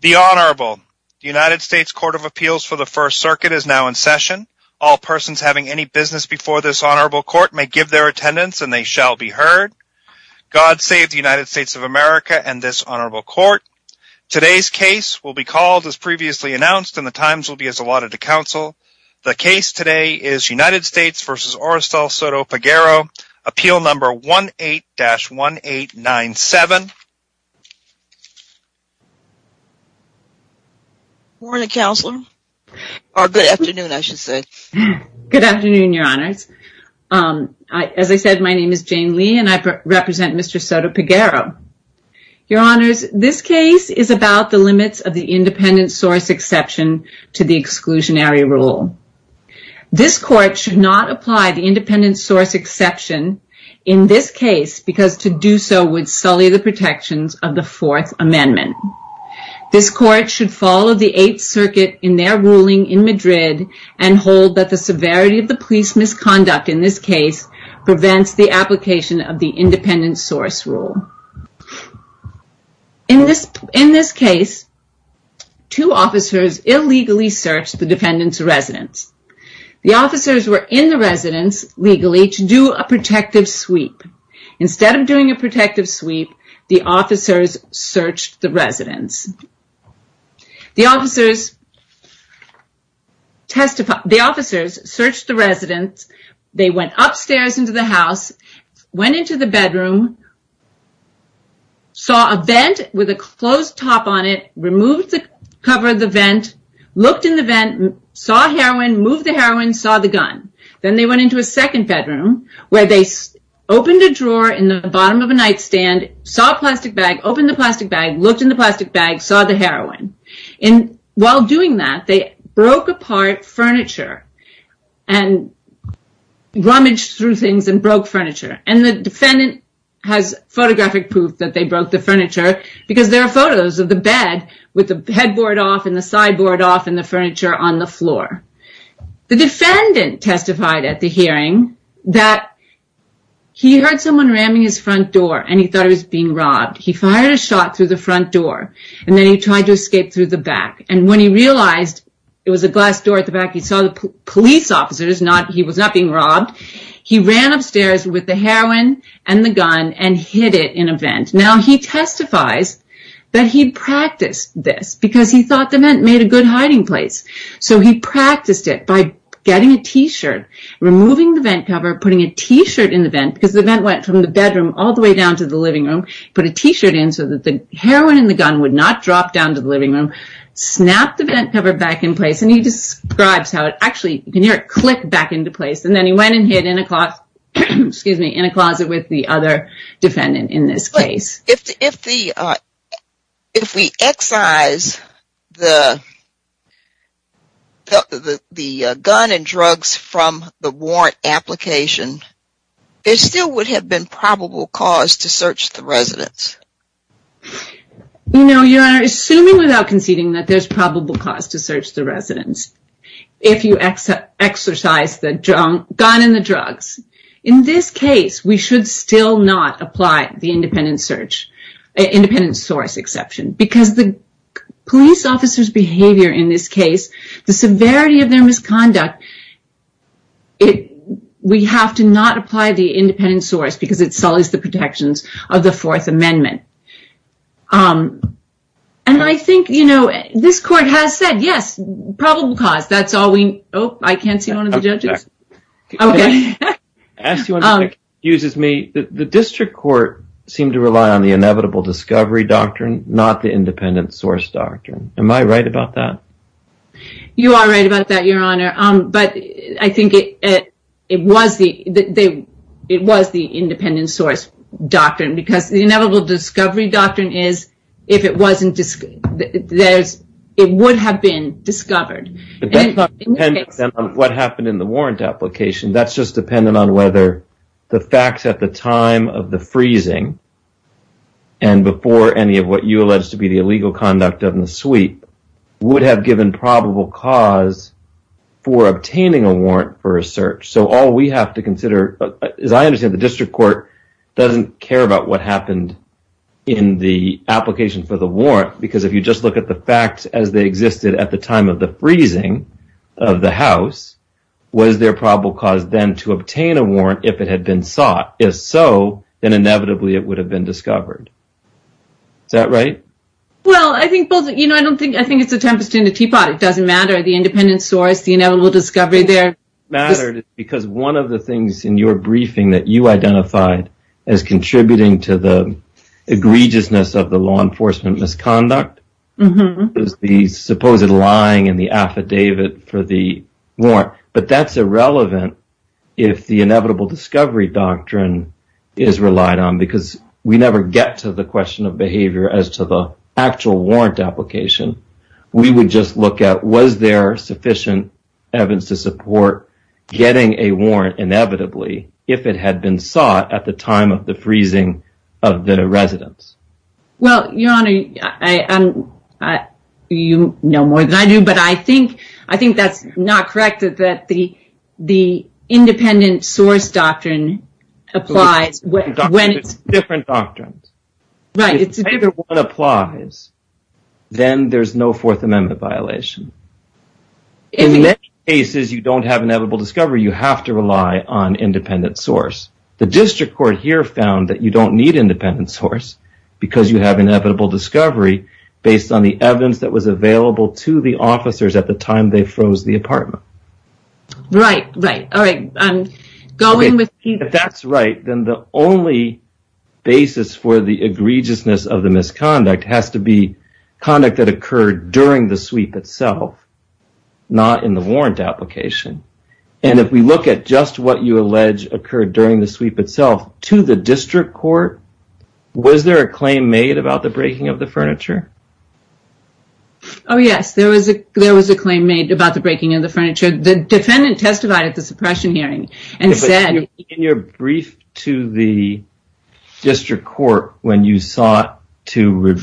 The Honorable United States Court of Appeals for the First Circuit is now in session. All persons having any business before this Honorable Court may give their attendance and they shall be heard. God save the United States of America and this Honorable Court. Today's case will be called as previously announced and the times will be as allotted to counsel. The case today is United States v. Orestal Soto-Peguero, Appeal No. 18-1897. Good morning, Counselor. Or good afternoon, I should say. Good afternoon, Your Honors. As I said, my name is Jane Lee and I represent Mr. Soto-Peguero. Your Honors, this case is about the limits of the independent source exception to the exclusionary rule. This Court should not apply the independent source exception in this case because to do so would sully the protections of the Fourth Amendment. This Court should follow the Eighth Circuit in their ruling in Madrid and hold that the severity of the police misconduct in this case prevents the application of the independent source rule. In this case, two officers illegally searched the defendant's residence. The officers were in the residence legally to do a protective sweep. The officers searched the residence. The officers searched the residence. They went upstairs into the house, went into the bedroom, saw a vent with a closed top on it, removed the cover of the vent, looked in the vent, saw heroin, moved the heroin, saw the gun. Then they went into a second bedroom where they opened a drawer in the bottom of a nightstand, saw a plastic bag, opened the plastic bag, looked in the plastic bag, saw the heroin. And while doing that, they broke apart furniture and rummaged through things and broke furniture. And the defendant has photographic proof that they broke the furniture because there are photos of the bed with the headboard off and the sideboard off and the furniture on the floor. The defendant testified at the hearing that he heard someone ramming his front door and he thought he was being robbed. He fired a shot through the front door and then he tried to escape through the back. And when he realized it was a glass door at the back, he saw the police officers, he was not being robbed. He ran upstairs with the heroin and the gun and hid it in a vent. Now, he testifies that he practiced this because he thought the vent made a good hiding place. So he practiced it by getting a t-shirt, removing the vent cover, putting a t-shirt in the vent because the vent went from the bedroom all the way down to the living room. Put a t-shirt in so that the heroin and the gun would not drop down to the living room. Snapped the vent cover back in place and he describes how it actually, you can hear it click back into place. And then he went and hid in a closet with the other defendant in this case. If we excise the gun and drugs from the warrant application, there still would have been probable cause to search the residence. No, Your Honor, assuming without conceding that there's probable cause to search the residence. If you excise the gun and the drugs, in this case, we should still not apply the independent search, independent source exception. Because the police officer's behavior in this case, the severity of their misconduct, we have to not apply the independent source because it sullies the protections of the Fourth Amendment. And I think, you know, this court has said, yes, probable cause. That's all we, oh, I can't see one of the judges. Okay. Excuse me. The district court seemed to rely on the inevitable discovery doctrine, not the independent source doctrine. Am I right about that? You are right about that, Your Honor. But I think it was the independent source doctrine. Because the inevitable discovery doctrine is if it wasn't, it would have been discovered. Depends on what happened in the warrant application. That's just dependent on whether the facts at the time of the freezing and before any of what you allege to be the illegal conduct of the sweep would have given probable cause for obtaining a warrant for a search. So all we have to consider, as I understand it, the district court doesn't care about what happened in the application for the warrant. Because if you just look at the facts as they existed at the time of the freezing of the house, was there probable cause then to obtain a warrant if it had been sought? If so, then inevitably it would have been discovered. Is that right? Well, I think both, you know, I don't think, I think it's a tempest in a teapot. It doesn't matter. The independent source, the inevitable discovery there. It matters because one of the things in your briefing that you identified as contributing to the egregiousness of the law enforcement misconduct is the supposed lying in the affidavit for the warrant. But that's irrelevant if the inevitable discovery doctrine is relied on because we never get to the question of behavior as to the actual warrant application. We would just look at was there sufficient evidence to support getting a warrant inevitably if it had been sought at the time of the freezing of the residence? Well, Your Honor, you know more than I do, but I think, I think that's not correct that the independent source doctrine applies. Different doctrines. Right. If either one applies, then there's no Fourth Amendment violation. In many cases, you don't have inevitable discovery. You have to rely on independent source. The district court here found that you don't need independent source because you have inevitable discovery based on the evidence that was available to the officers at the time they froze the apartment. Right. Right. All right. If that's right, then the only basis for the egregiousness of the misconduct has to be conduct that occurred during the sweep itself, not in the warrant application. And if we look at just what you allege occurred during the sweep itself to the district court, was there a claim made about the breaking of the furniture? Oh, yes. There was a, there was a claim made about the breaking of the furniture. The defendant testified at the suppression hearing and said. In your brief to the district court when you sought to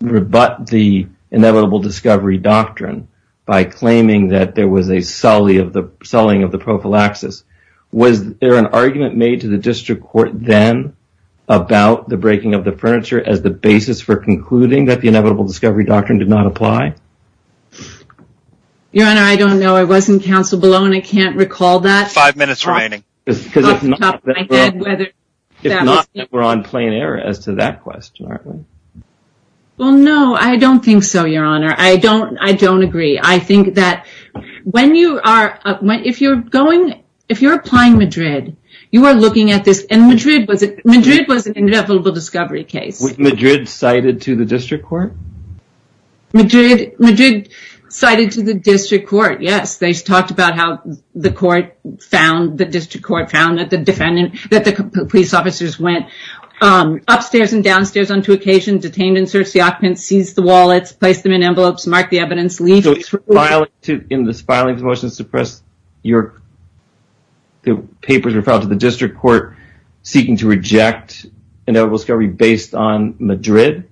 rebut the inevitable discovery doctrine by claiming that there was a sully of the sullying of the prophylaxis, was there an argument made to the district court then about the breaking of the furniture as the basis for concluding that the inevitable discovery doctrine did not apply? Your Honor, I don't know. I wasn't counsel below and I can't recall that. Five minutes remaining. Because it's not that we're on plain air as to that question, aren't we? Well, no, I don't think so, Your Honor. I don't, I don't agree. I think that when you are, if you're going, if you're applying Madrid, you are looking at this. And Madrid was, Madrid was an inevitable discovery case. Was Madrid cited to the district court? Madrid, Madrid cited to the district court. Yes. They talked about how the court found, the district court found that the defendant, that the police officers went upstairs and downstairs on two occasions, detained and searched the occupants, seized the wallets, placed them in envelopes, marked the evidence, leaked. So it's for filing to, in this filing of the motion to suppress your, the papers were filed to the district court seeking to reject inevitable discovery based on Madrid?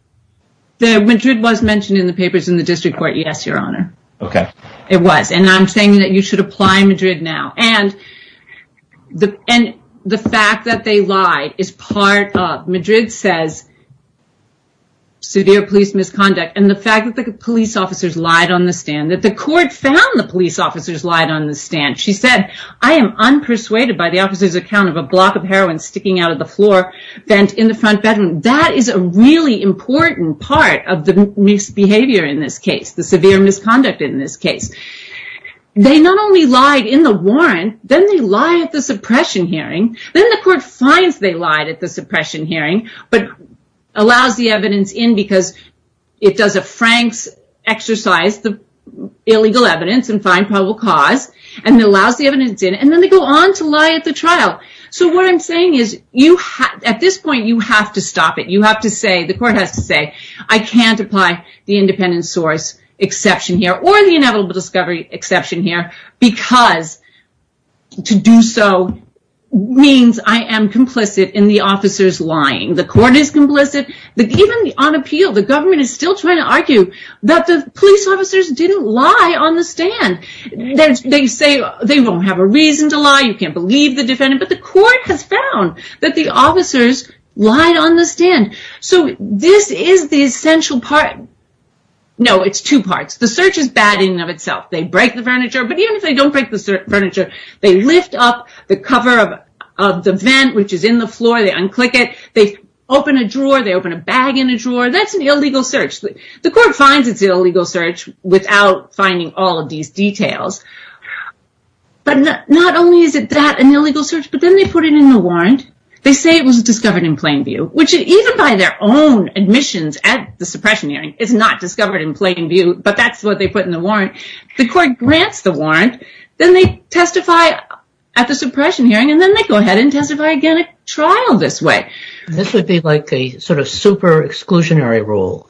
The Madrid was mentioned in the papers in the district court. Yes, Your Honor. Okay. It was. And I'm saying that you should apply Madrid now. And the, and the fact that they lied is part of, Madrid says severe police misconduct. And the fact that the police officers lied on the stand, that the court found the police officers lied on the stand. She said, I am unpersuaded by the officer's account of a block of heroin sticking out of the floor, bent in the front bedroom. That is a really important part of the misbehavior in this case, the severe misconduct in this case. They not only lied in the warrant, then they lie at the suppression hearing. Then the court finds they lied at the suppression hearing, but allows the evidence in because it does a Frank's exercise, the illegal evidence and find probable cause. And it allows the evidence in. And then they go on to lie at the trial. So what I'm saying is you have at this point, you have to stop it. You have to say the court has to say, I can't apply the independent source exception here or the inevitable discovery exception here. Because to do so means I am complicit in the officers lying. The court is complicit. Even on appeal, the government is still trying to argue that the police officers didn't lie on the stand. They say they won't have a reason to lie. You can't believe the defendant. But the court has found that the officers lied on the stand. So this is the essential part. No, it's two parts. The search is bad in and of itself. They break the furniture. But even if they don't break the furniture, they lift up the cover of the vent, which is in the floor. They unclick it. They open a drawer. They open a bag in a drawer. That's an illegal search. The court finds it's an illegal search without finding all of these details. But not only is it that an illegal search, but then they put it in the warrant. They say it was discovered in plain view, which even by their own admissions at the suppression hearing is not discovered in plain view. But that's what they put in the warrant. The court grants the warrant. Then they testify at the suppression hearing. And then they go ahead and testify again at trial this way. This would be like a sort of super exclusionary rule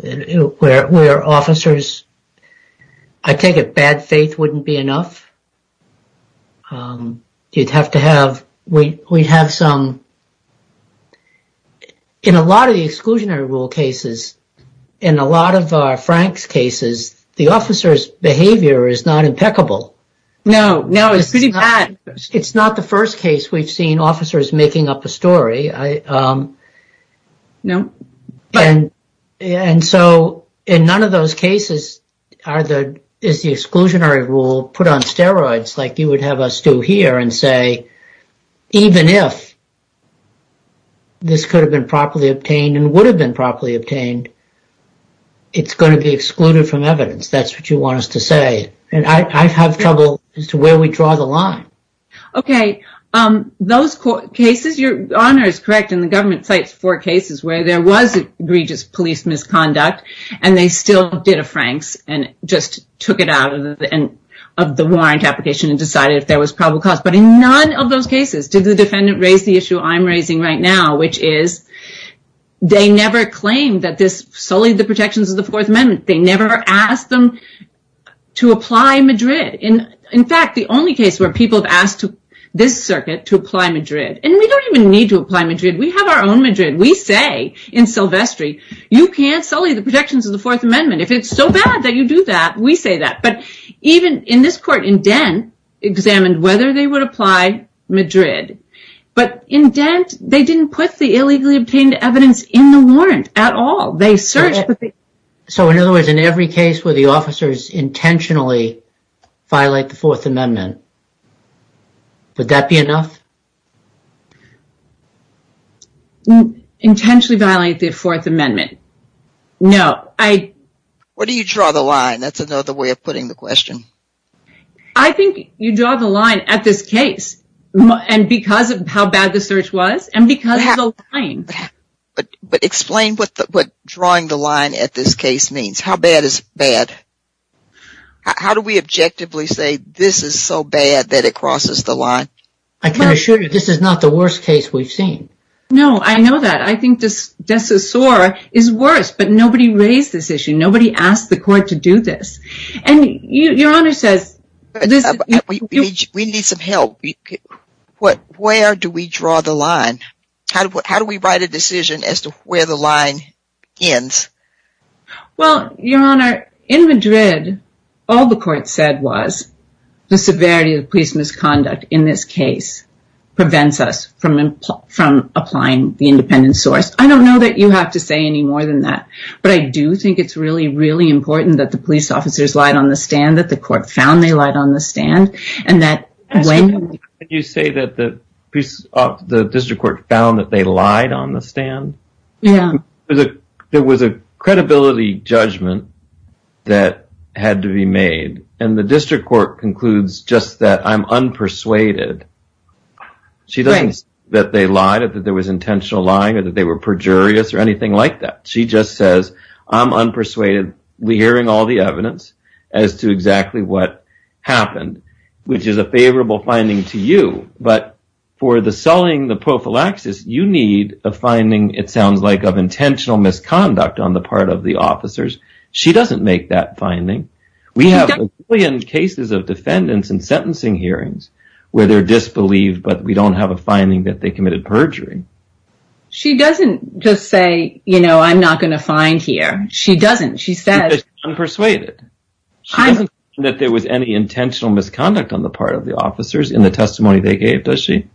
where officers, I take it bad faith wouldn't be enough. You'd have to have we have some. In a lot of the exclusionary rule cases, in a lot of Frank's cases, the officer's behavior is not impeccable. No, no, it's pretty bad. It's not the first case we've seen officers making up a story. No. And so in none of those cases are the exclusionary rule put on steroids like you would have us do here and say, even if. This could have been properly obtained and would have been properly obtained. It's going to be excluded from evidence. That's what you want us to say. And I have trouble as to where we draw the line. OK, those cases, your honor is correct. And the government cites four cases where there was egregious police misconduct and they still did a Frank's and just took it out of the end of the warrant application and decided if there was probable cause. But in none of those cases did the defendant raise the issue I'm raising right now, which is they never claimed that this solely the protections of the Fourth Amendment. They never asked them to apply Madrid. In fact, the only case where people have asked to this circuit to apply Madrid and we don't even need to apply Madrid. We have our own Madrid. We say in Silvestri you can't sully the protections of the Fourth Amendment if it's so bad that you do that. We say that. But even in this court in Dent examined whether they would apply Madrid. But in Dent, they didn't put the illegally obtained evidence in the warrant at all. They searched. So in other words, in every case where the officers intentionally violate the Fourth Amendment. Would that be enough? Intentionally violate the Fourth Amendment? No, I. What do you draw the line? That's another way of putting the question. I think you draw the line at this case. And because of how bad the search was and because of the line. But explain what drawing the line at this case means. How bad is bad? How do we objectively say this is so bad that it crosses the line? I can assure you this is not the worst case we've seen. No, I know that. I think this is worse. But nobody raised this issue. Nobody asked the court to do this. And your honor says. We need some help. Where do we draw the line? How do we write a decision as to where the line ends? Well, your honor, in Madrid, all the court said was. The severity of police misconduct in this case prevents us from applying the independent source. I don't know that you have to say any more than that. But I do think it's really, really important that the police officers lied on the stand. That the court found they lied on the stand. Can you say that the district court found that they lied on the stand? Yeah. There was a credibility judgment that had to be made. And the district court concludes just that I'm unpersuaded. She doesn't say that they lied or that there was intentional lying or that they were perjurious or anything like that. She just says I'm unpersuaded. We're hearing all the evidence as to exactly what happened. Which is a favorable finding to you. But for the selling the prophylaxis, you need a finding. It sounds like of intentional misconduct on the part of the officers. She doesn't make that finding. We have cases of defendants and sentencing hearings where they're disbelieved. But we don't have a finding that they committed perjury. She doesn't just say, you know, I'm not going to find here. She doesn't. She says. She says she's unpersuaded. She doesn't say that there was any intentional misconduct on the part of the officers in the testimony they gave. Does she?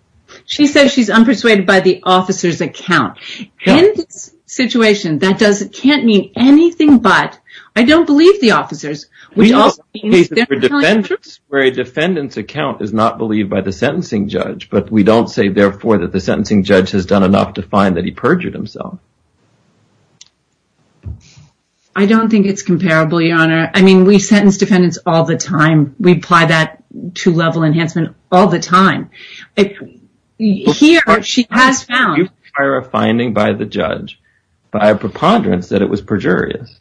She says she's unpersuaded by the officer's account. In this situation, that can't mean anything but I don't believe the officers. We have cases for defendants where a defendant's account is not believed by the sentencing judge. But we don't say, therefore, that the sentencing judge has done enough to find that he perjured himself. I don't think it's comparable, Your Honor. I mean, we sentence defendants all the time. We apply that to level enhancement all the time. Here, she has found. A finding by the judge by a preponderance that it was perjurious.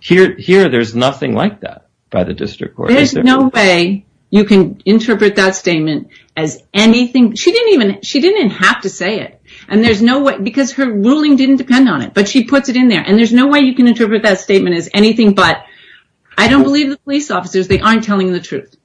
Here, there's nothing like that by the district court. There's no way you can interpret that statement as anything. She didn't even. She didn't have to say it. And there's no way. Because her ruling didn't depend on it. But she puts it in there. And there's no way you can interpret that statement as anything but I don't believe the police officers. They aren't telling the truth.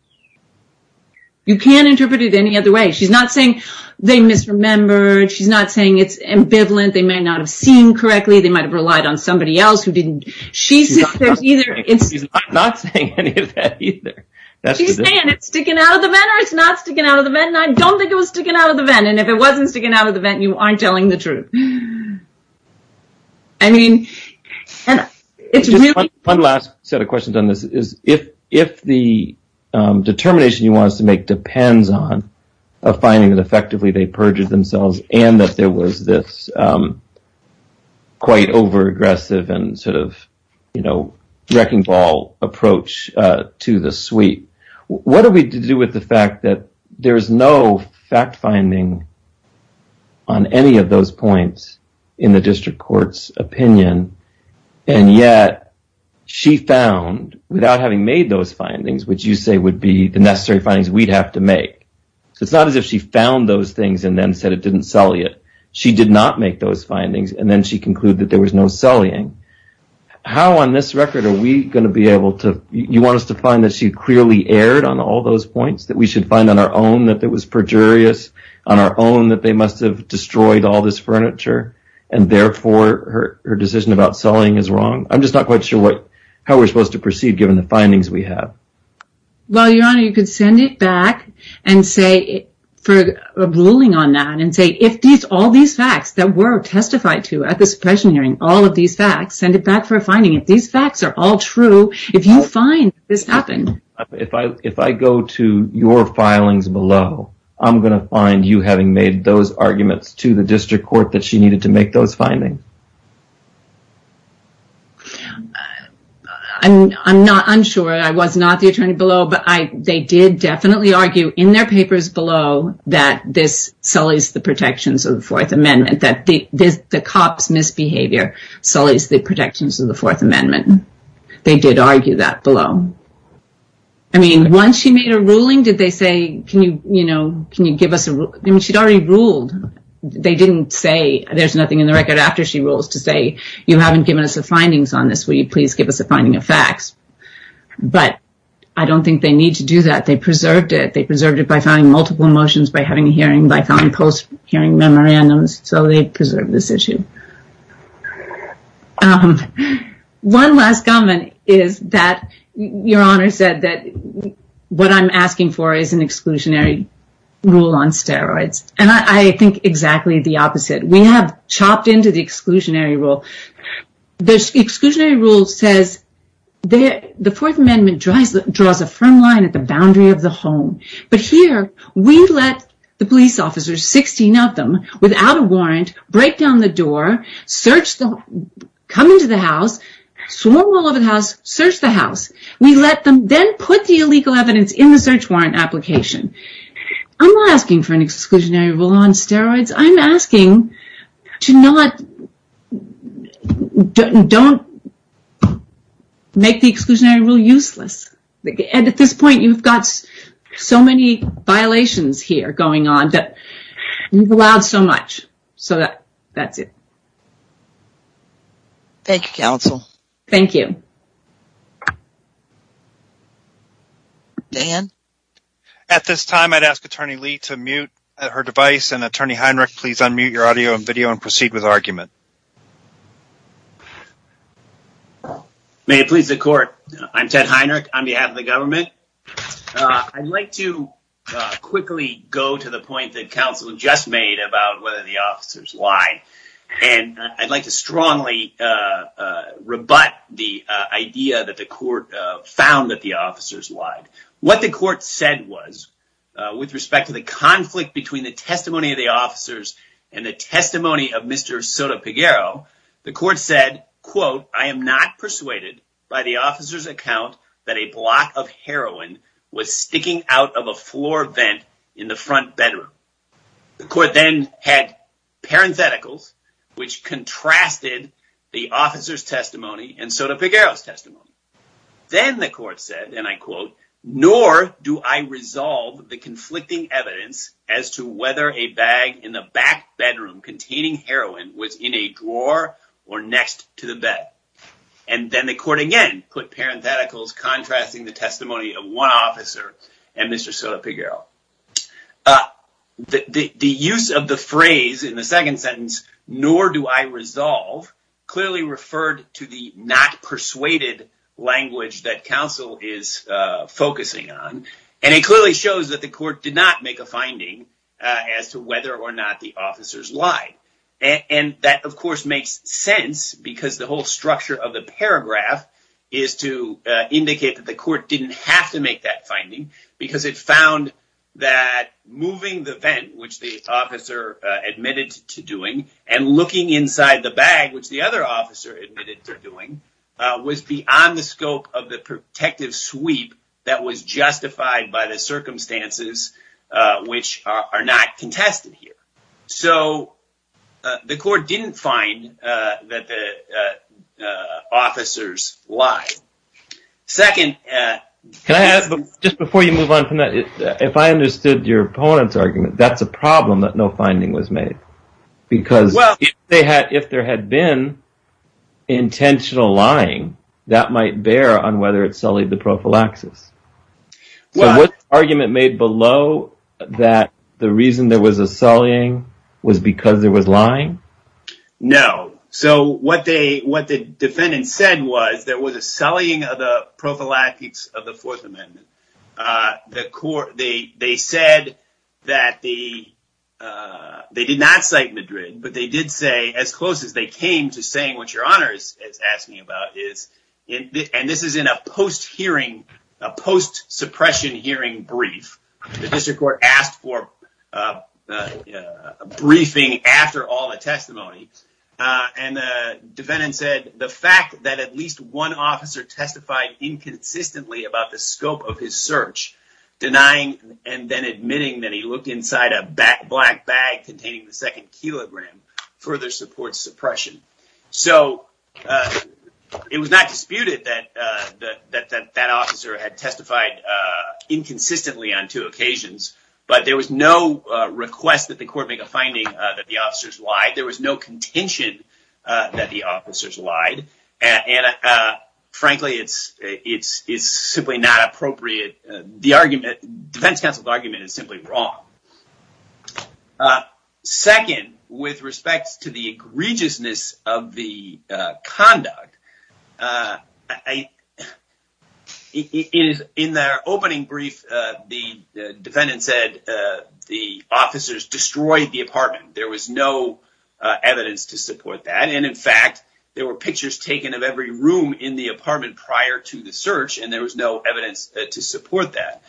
You can't interpret it any other way. She's not saying they misremembered. She's not saying it's ambivalent. They may not have seen correctly. They might have relied on somebody else who didn't. She's not saying any of that either. She's saying it's sticking out of the vent or it's not sticking out of the vent. And I don't think it was sticking out of the vent. And if it wasn't sticking out of the vent, you aren't telling the truth. I mean, it's really. One last set of questions on this is if the determination you want us to make depends on a finding that effectively they perjured themselves and that there was this quite overaggressive and sort of, you know, wrecking ball approach to the suite, what do we do with the fact that there is no fact finding on any of those points in the district court's opinion? And yet she found without having made those findings, which you say would be the necessary findings we'd have to make. It's not as if she found those things and then said it didn't sully it. She did not make those findings. And then she concluded that there was no sullying. How on this record are we going to be able to. You want us to find that she clearly erred on all those points that we should find on our own that there was perjurious on our own that they must have destroyed all this furniture. And therefore, her decision about sullying is wrong. I'm just not quite sure what how we're supposed to proceed given the findings we have. Well, your honor, you could send it back and say for a ruling on that and say if these all these facts that were testified to at the suppression hearing, all of these facts, send it back for a finding. These facts are all true. If you find this happened. If I if I go to your filings below, I'm going to find you having made those arguments to the district court that she needed to make those findings. I'm not unsure. I was not the attorney below, but they did definitely argue in their papers below that this sullies the protections of the Fourth Amendment, that the cops misbehavior sullies the protections of the Fourth Amendment. They did argue that below. I mean, once she made a ruling, did they say, can you, you know, can you give us a. I mean, she'd already ruled. They didn't say there's nothing in the record after she rules to say, you haven't given us the findings on this. Will you please give us a finding of facts? But I don't think they need to do that. They preserved it. They preserved it by finding multiple emotions by having a hearing by filing post hearing memorandums. So they preserve this issue. One last comment is that your honor said that what I'm asking for is an exclusionary rule on steroids. And I think exactly the opposite. We have chopped into the exclusionary rule. The exclusionary rule says that the Fourth Amendment drives the draws a firm line at the boundary of the home. But here we let the police officers, 16 of them without a warrant, break down the door, search, come into the house, swarm all over the house, search the house. We let them then put the illegal evidence in the search warrant application. I'm not asking for an exclusionary rule on steroids. I'm asking to not, don't make the exclusionary rule useless. And at this point, you've got so many violations here going on that you've allowed so much. So that's it. Thank you, counsel. Thank you. Dan. At this time, I'd ask Attorney Lee to mute her device and Attorney Heinrich, please unmute your audio and video and proceed with argument. May it please the court. I'm Ted Heinrich on behalf of the government. I'd like to quickly go to the point that counsel just made about whether the officers lied. And I'd like to strongly rebut the idea that the court found that the officers lied. What the court said was, with respect to the conflict between the testimony of the officers and the testimony of Mr. Soto-Peguero, the court said, quote, I am not persuaded by the officer's account that a block of heroin was sticking out of a floor vent in the front bedroom. The court then had parentheticals, which contrasted the officer's testimony and Soto-Peguero's testimony. Then the court said, and I quote, nor do I resolve the conflicting evidence as to whether a bag in the back bedroom containing heroin was in a drawer or next to the bed. And then the court again put parentheticals contrasting the testimony of one officer and Mr. Soto-Peguero. The use of the phrase in the second sentence, nor do I resolve, clearly referred to the not persuaded language that counsel is focusing on. And it clearly shows that the court did not make a finding as to whether or not the officers lied. And that, of course, makes sense because the whole structure of the paragraph is to indicate that the court didn't have to make that finding because it found that moving the vent, which the officer admitted to doing, and looking inside the bag, which the other officer admitted to doing, was beyond the scope of the protective sweep that was justified by the circumstances which are not contested here. So the court didn't find that the officers lied. Second… Can I ask, just before you move on from that, if I understood your opponent's argument, that's a problem that no finding was made. Because if there had been intentional lying, that might bear on whether it sullied the prophylaxis. Was the argument made below that the reason there was a sullying was because there was lying? No. So what the defendant said was there was a sullying of the prophylaxis of the Fourth Amendment. They said that they did not cite Madrid, but they did say, as close as they came to saying what your Honor is asking about, and this is in a post-suppression hearing brief. The district court asked for a briefing after all the testimony, and the defendant said the fact that at least one officer testified inconsistently about the scope of his search, denying and then admitting that he looked inside a black bag containing the second kilogram, further supports suppression. So it was not disputed that that officer had testified inconsistently on two occasions, but there was no request that the court make a finding that the officers lied. There was no contention that the officers lied, and frankly, it's simply not appropriate. The defense counsel's argument is simply wrong. Second, with respect to the egregiousness of the conduct, in their opening brief, the defendant said the officers destroyed the apartment. There was no evidence to support that, and in fact, there were pictures taken of every room in the apartment prior to the search, and there was no evidence to support that.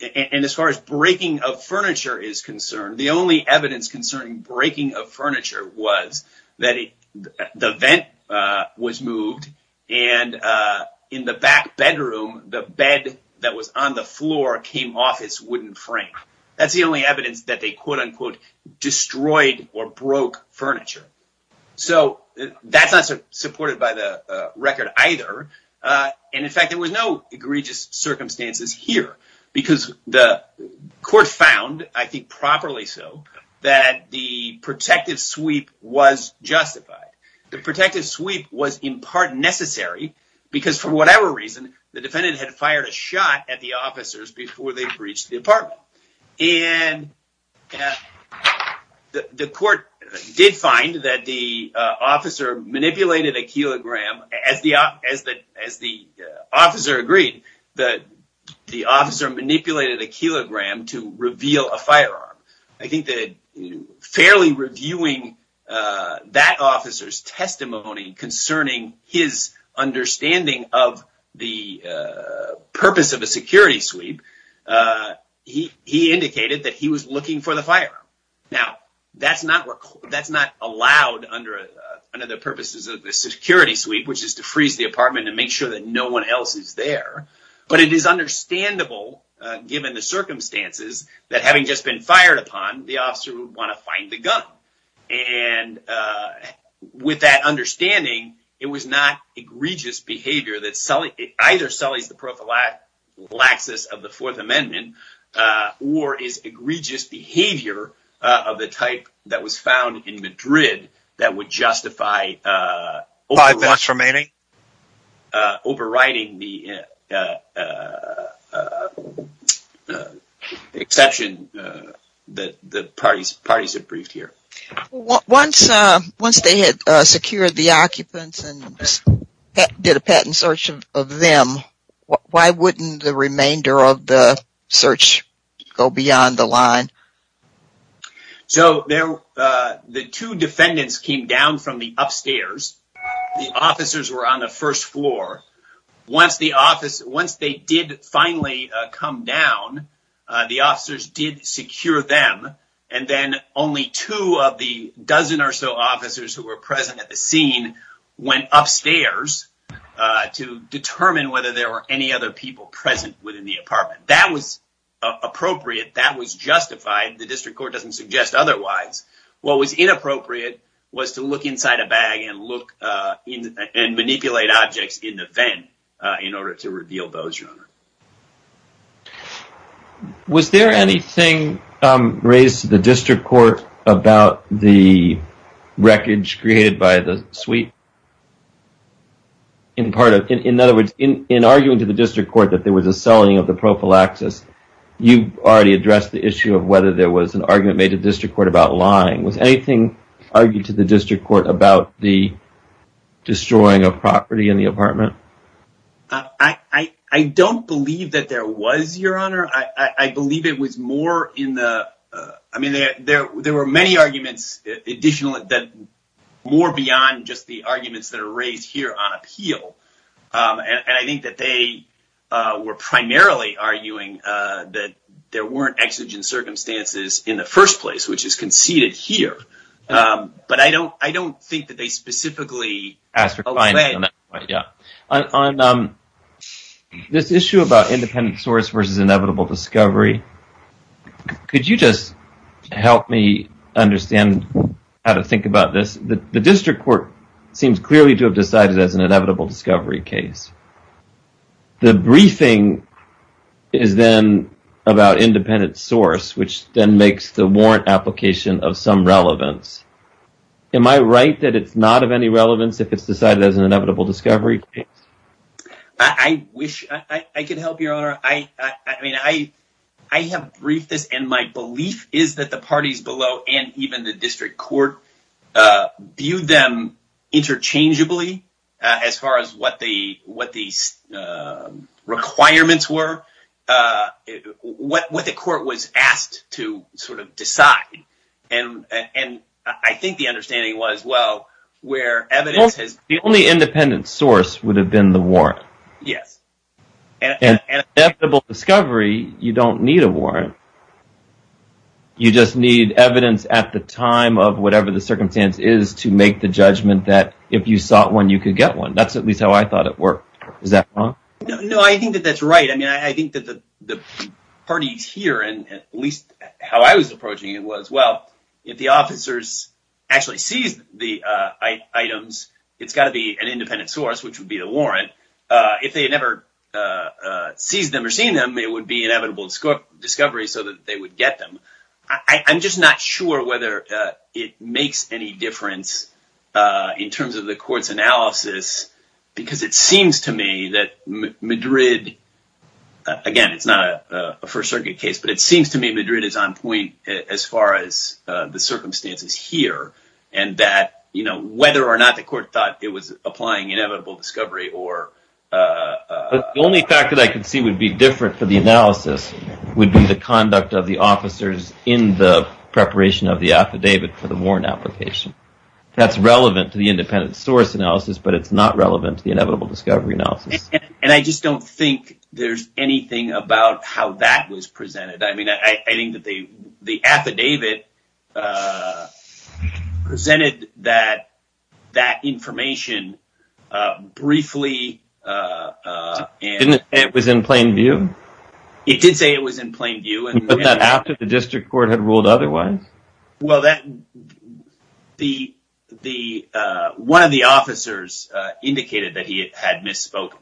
And as far as breaking of furniture is concerned, the only evidence concerning breaking of furniture was that the vent was moved, and in the back bedroom, the bed that was on the floor came off its wooden frame. That's the only evidence that they, quote-unquote, destroyed or broke furniture. So that's not supported by the record either, and in fact, there was no egregious circumstances here, because the court found, I think properly so, that the protective sweep was justified. The protective sweep was in part necessary, because for whatever reason, the defendant had fired a shot at the officers before they breached the apartment. And the court did find that the officer manipulated a kilogram, as the officer agreed, that the officer manipulated a kilogram to reveal a firearm. I think that fairly reviewing that officer's testimony concerning his understanding of the purpose of a security sweep, he indicated that he was looking for the firearm. Now, that's not allowed under the purposes of the security sweep, which is to freeze the apartment and make sure that no one else is there, but it is understandable, given the circumstances, that having just been fired upon, the officer would want to find the gun. And with that understanding, it was not egregious behavior that either sullies the prophylaxis of the Fourth Amendment or is egregious behavior of the type that was found in Madrid that would justify overriding the exception that the parties have briefed here. Once they had secured the occupants and did a patent search of them, why wouldn't the remainder of the search go beyond the line? So the two defendants came down from the upstairs. The officers were on the first floor. Once they did finally come down, the officers did secure them, and then only two of the dozen or so officers who were present at the scene went upstairs to determine whether there were any other people present within the apartment. That was appropriate. That was justified. The district court doesn't suggest otherwise. What was inappropriate was to look inside a bag and manipulate objects in the vent in order to reveal those rumors. Was there anything raised to the district court about the wreckage created by the suite? In other words, in arguing to the district court that there was a selling of the prophylaxis, you already addressed the issue of whether there was an argument made to the district court about lying. Was anything argued to the district court about the destroying of property in the apartment? I don't believe that there was, Your Honor. I believe it was more in the—I mean, there were many additional arguments that were more beyond just the arguments that are raised here on appeal. And I think that they were primarily arguing that there weren't exigent circumstances in the first place, which is conceded here. But I don't think that they specifically— On this issue about independent source versus inevitable discovery, could you just help me understand how to think about this? The district court seems clearly to have decided as an inevitable discovery case. The briefing is then about independent source, which then makes the warrant application of some relevance. Am I right that it's not of any relevance if it's decided as an inevitable discovery case? I wish I could help, Your Honor. I mean, I have briefed this, and my belief is that the parties below and even the district court viewed them interchangeably as far as what the requirements were, what the court was asked to sort of decide. And I think the understanding was, well, where evidence has— The only independent source would have been the warrant. Yes. An inevitable discovery, you don't need a warrant. You just need evidence at the time of whatever the circumstance is to make the judgment that if you sought one, you could get one. That's at least how I thought it worked. Is that wrong? No, I think that that's right. I mean, I think that the parties here, and at least how I was approaching it, was, well, if the officers actually seized the items, it's got to be an independent source, which would be the warrant. If they never seized them or seen them, it would be inevitable discovery so that they would get them. I'm just not sure whether it makes any difference in terms of the court's analysis, because it seems to me that Madrid—again, it's not a First Circuit case, but it seems to me Madrid is on point as far as the circumstances here, and that whether or not the court thought it was applying inevitable discovery or— The only fact that I could see would be different for the analysis would be the conduct of the officers in the preparation of the affidavit for the warrant application. That's relevant to the independent source analysis, but it's not relevant to the inevitable discovery analysis. And I just don't think there's anything about how that was presented. I mean, I think that the affidavit presented that information briefly— Didn't it say it was in plain view? It did say it was in plain view. But not after the district court had ruled otherwise? Well, one of the officers indicated that he had misspoken.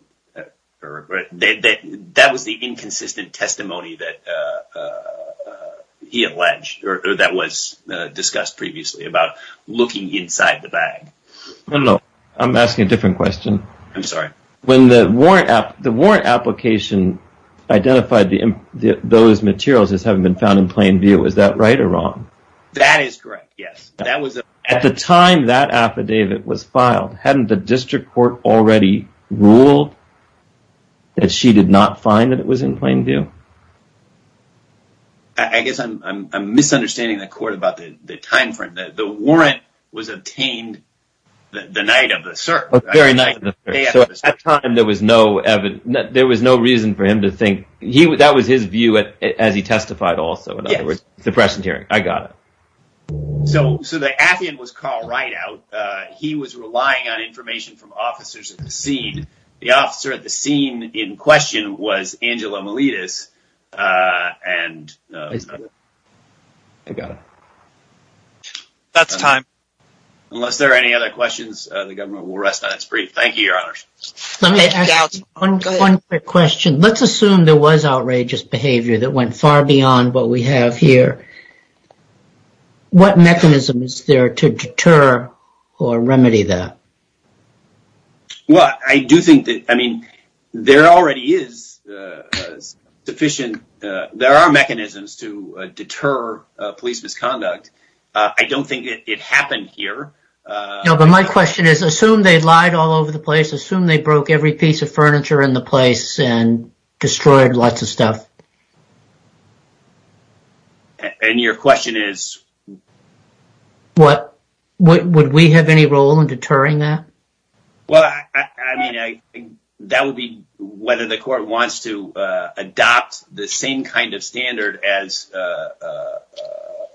That was the inconsistent testimony that he alleged or that was discussed previously about looking inside the bag. I'm asking a different question. I'm sorry? When the warrant application identified those materials as having been found in plain view, was that right or wrong? That is correct, yes. At the time that affidavit was filed, hadn't the district court already ruled that she did not find that it was in plain view? I guess I'm misunderstanding the court about the time frame. The warrant was obtained the night of the search. Very night of the search. So at that time, there was no reason for him to think—that was his view as he testified also, in other words. Yes. Depression hearing. I got it. So the affidavit was called right out. He was relying on information from officers at the scene. The officer at the scene in question was Angela Miletus. That's time. Unless there are any other questions, the government will rest on its brief. Thank you, Your Honor. Let me ask one quick question. Let's assume there was outrageous behavior that went far beyond what we have here. What mechanism is there to deter or remedy that? Well, I do think that—I mean, there already is sufficient—there are mechanisms to deter police misconduct. I don't think it happened here. No, but my question is, assume they lied all over the place. Assume they broke every piece of furniture in the place and destroyed lots of stuff. And your question is? Would we have any role in deterring that? Well, I mean, that would be whether the court wants to adopt the same kind of standard as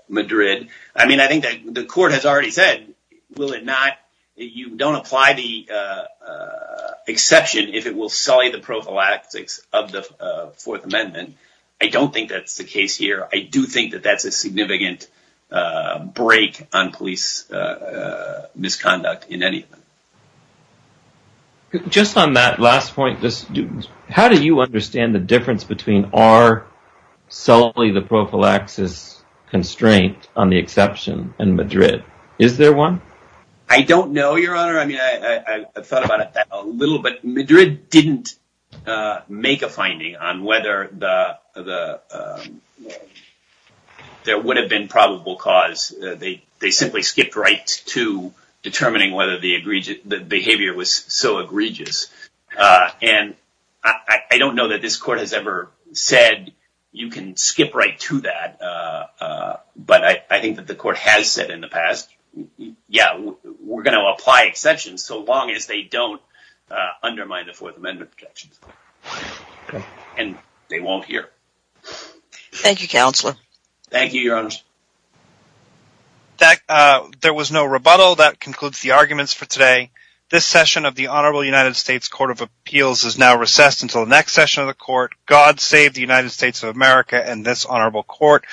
Madrid. I mean, I think that the court has already said, will it not—you don't apply the exception if it will sully the prophylaxis of the Fourth Amendment. I don't think that's the case here. I do think that that's a significant break on police misconduct in any of them. Just on that last point, how do you understand the difference between our sully the prophylaxis constraint on the exception and Madrid? Is there one? I don't know, Your Honor. I mean, I thought about it a little bit. Madrid didn't make a finding on whether there would have been probable cause. They simply skipped right to determining whether the behavior was so egregious. And I don't know that this court has ever said you can skip right to that. But I think that the court has said in the past, yeah, we're going to apply exceptions so long as they don't undermine the Fourth Amendment protections. And they won't here. Thank you, Counselor. Thank you, Your Honor. There was no rebuttal. That concludes the arguments for today. This session of the Honorable United States Court of Appeals is now recessed until the next session of the court. God save the United States of America and this honorable court.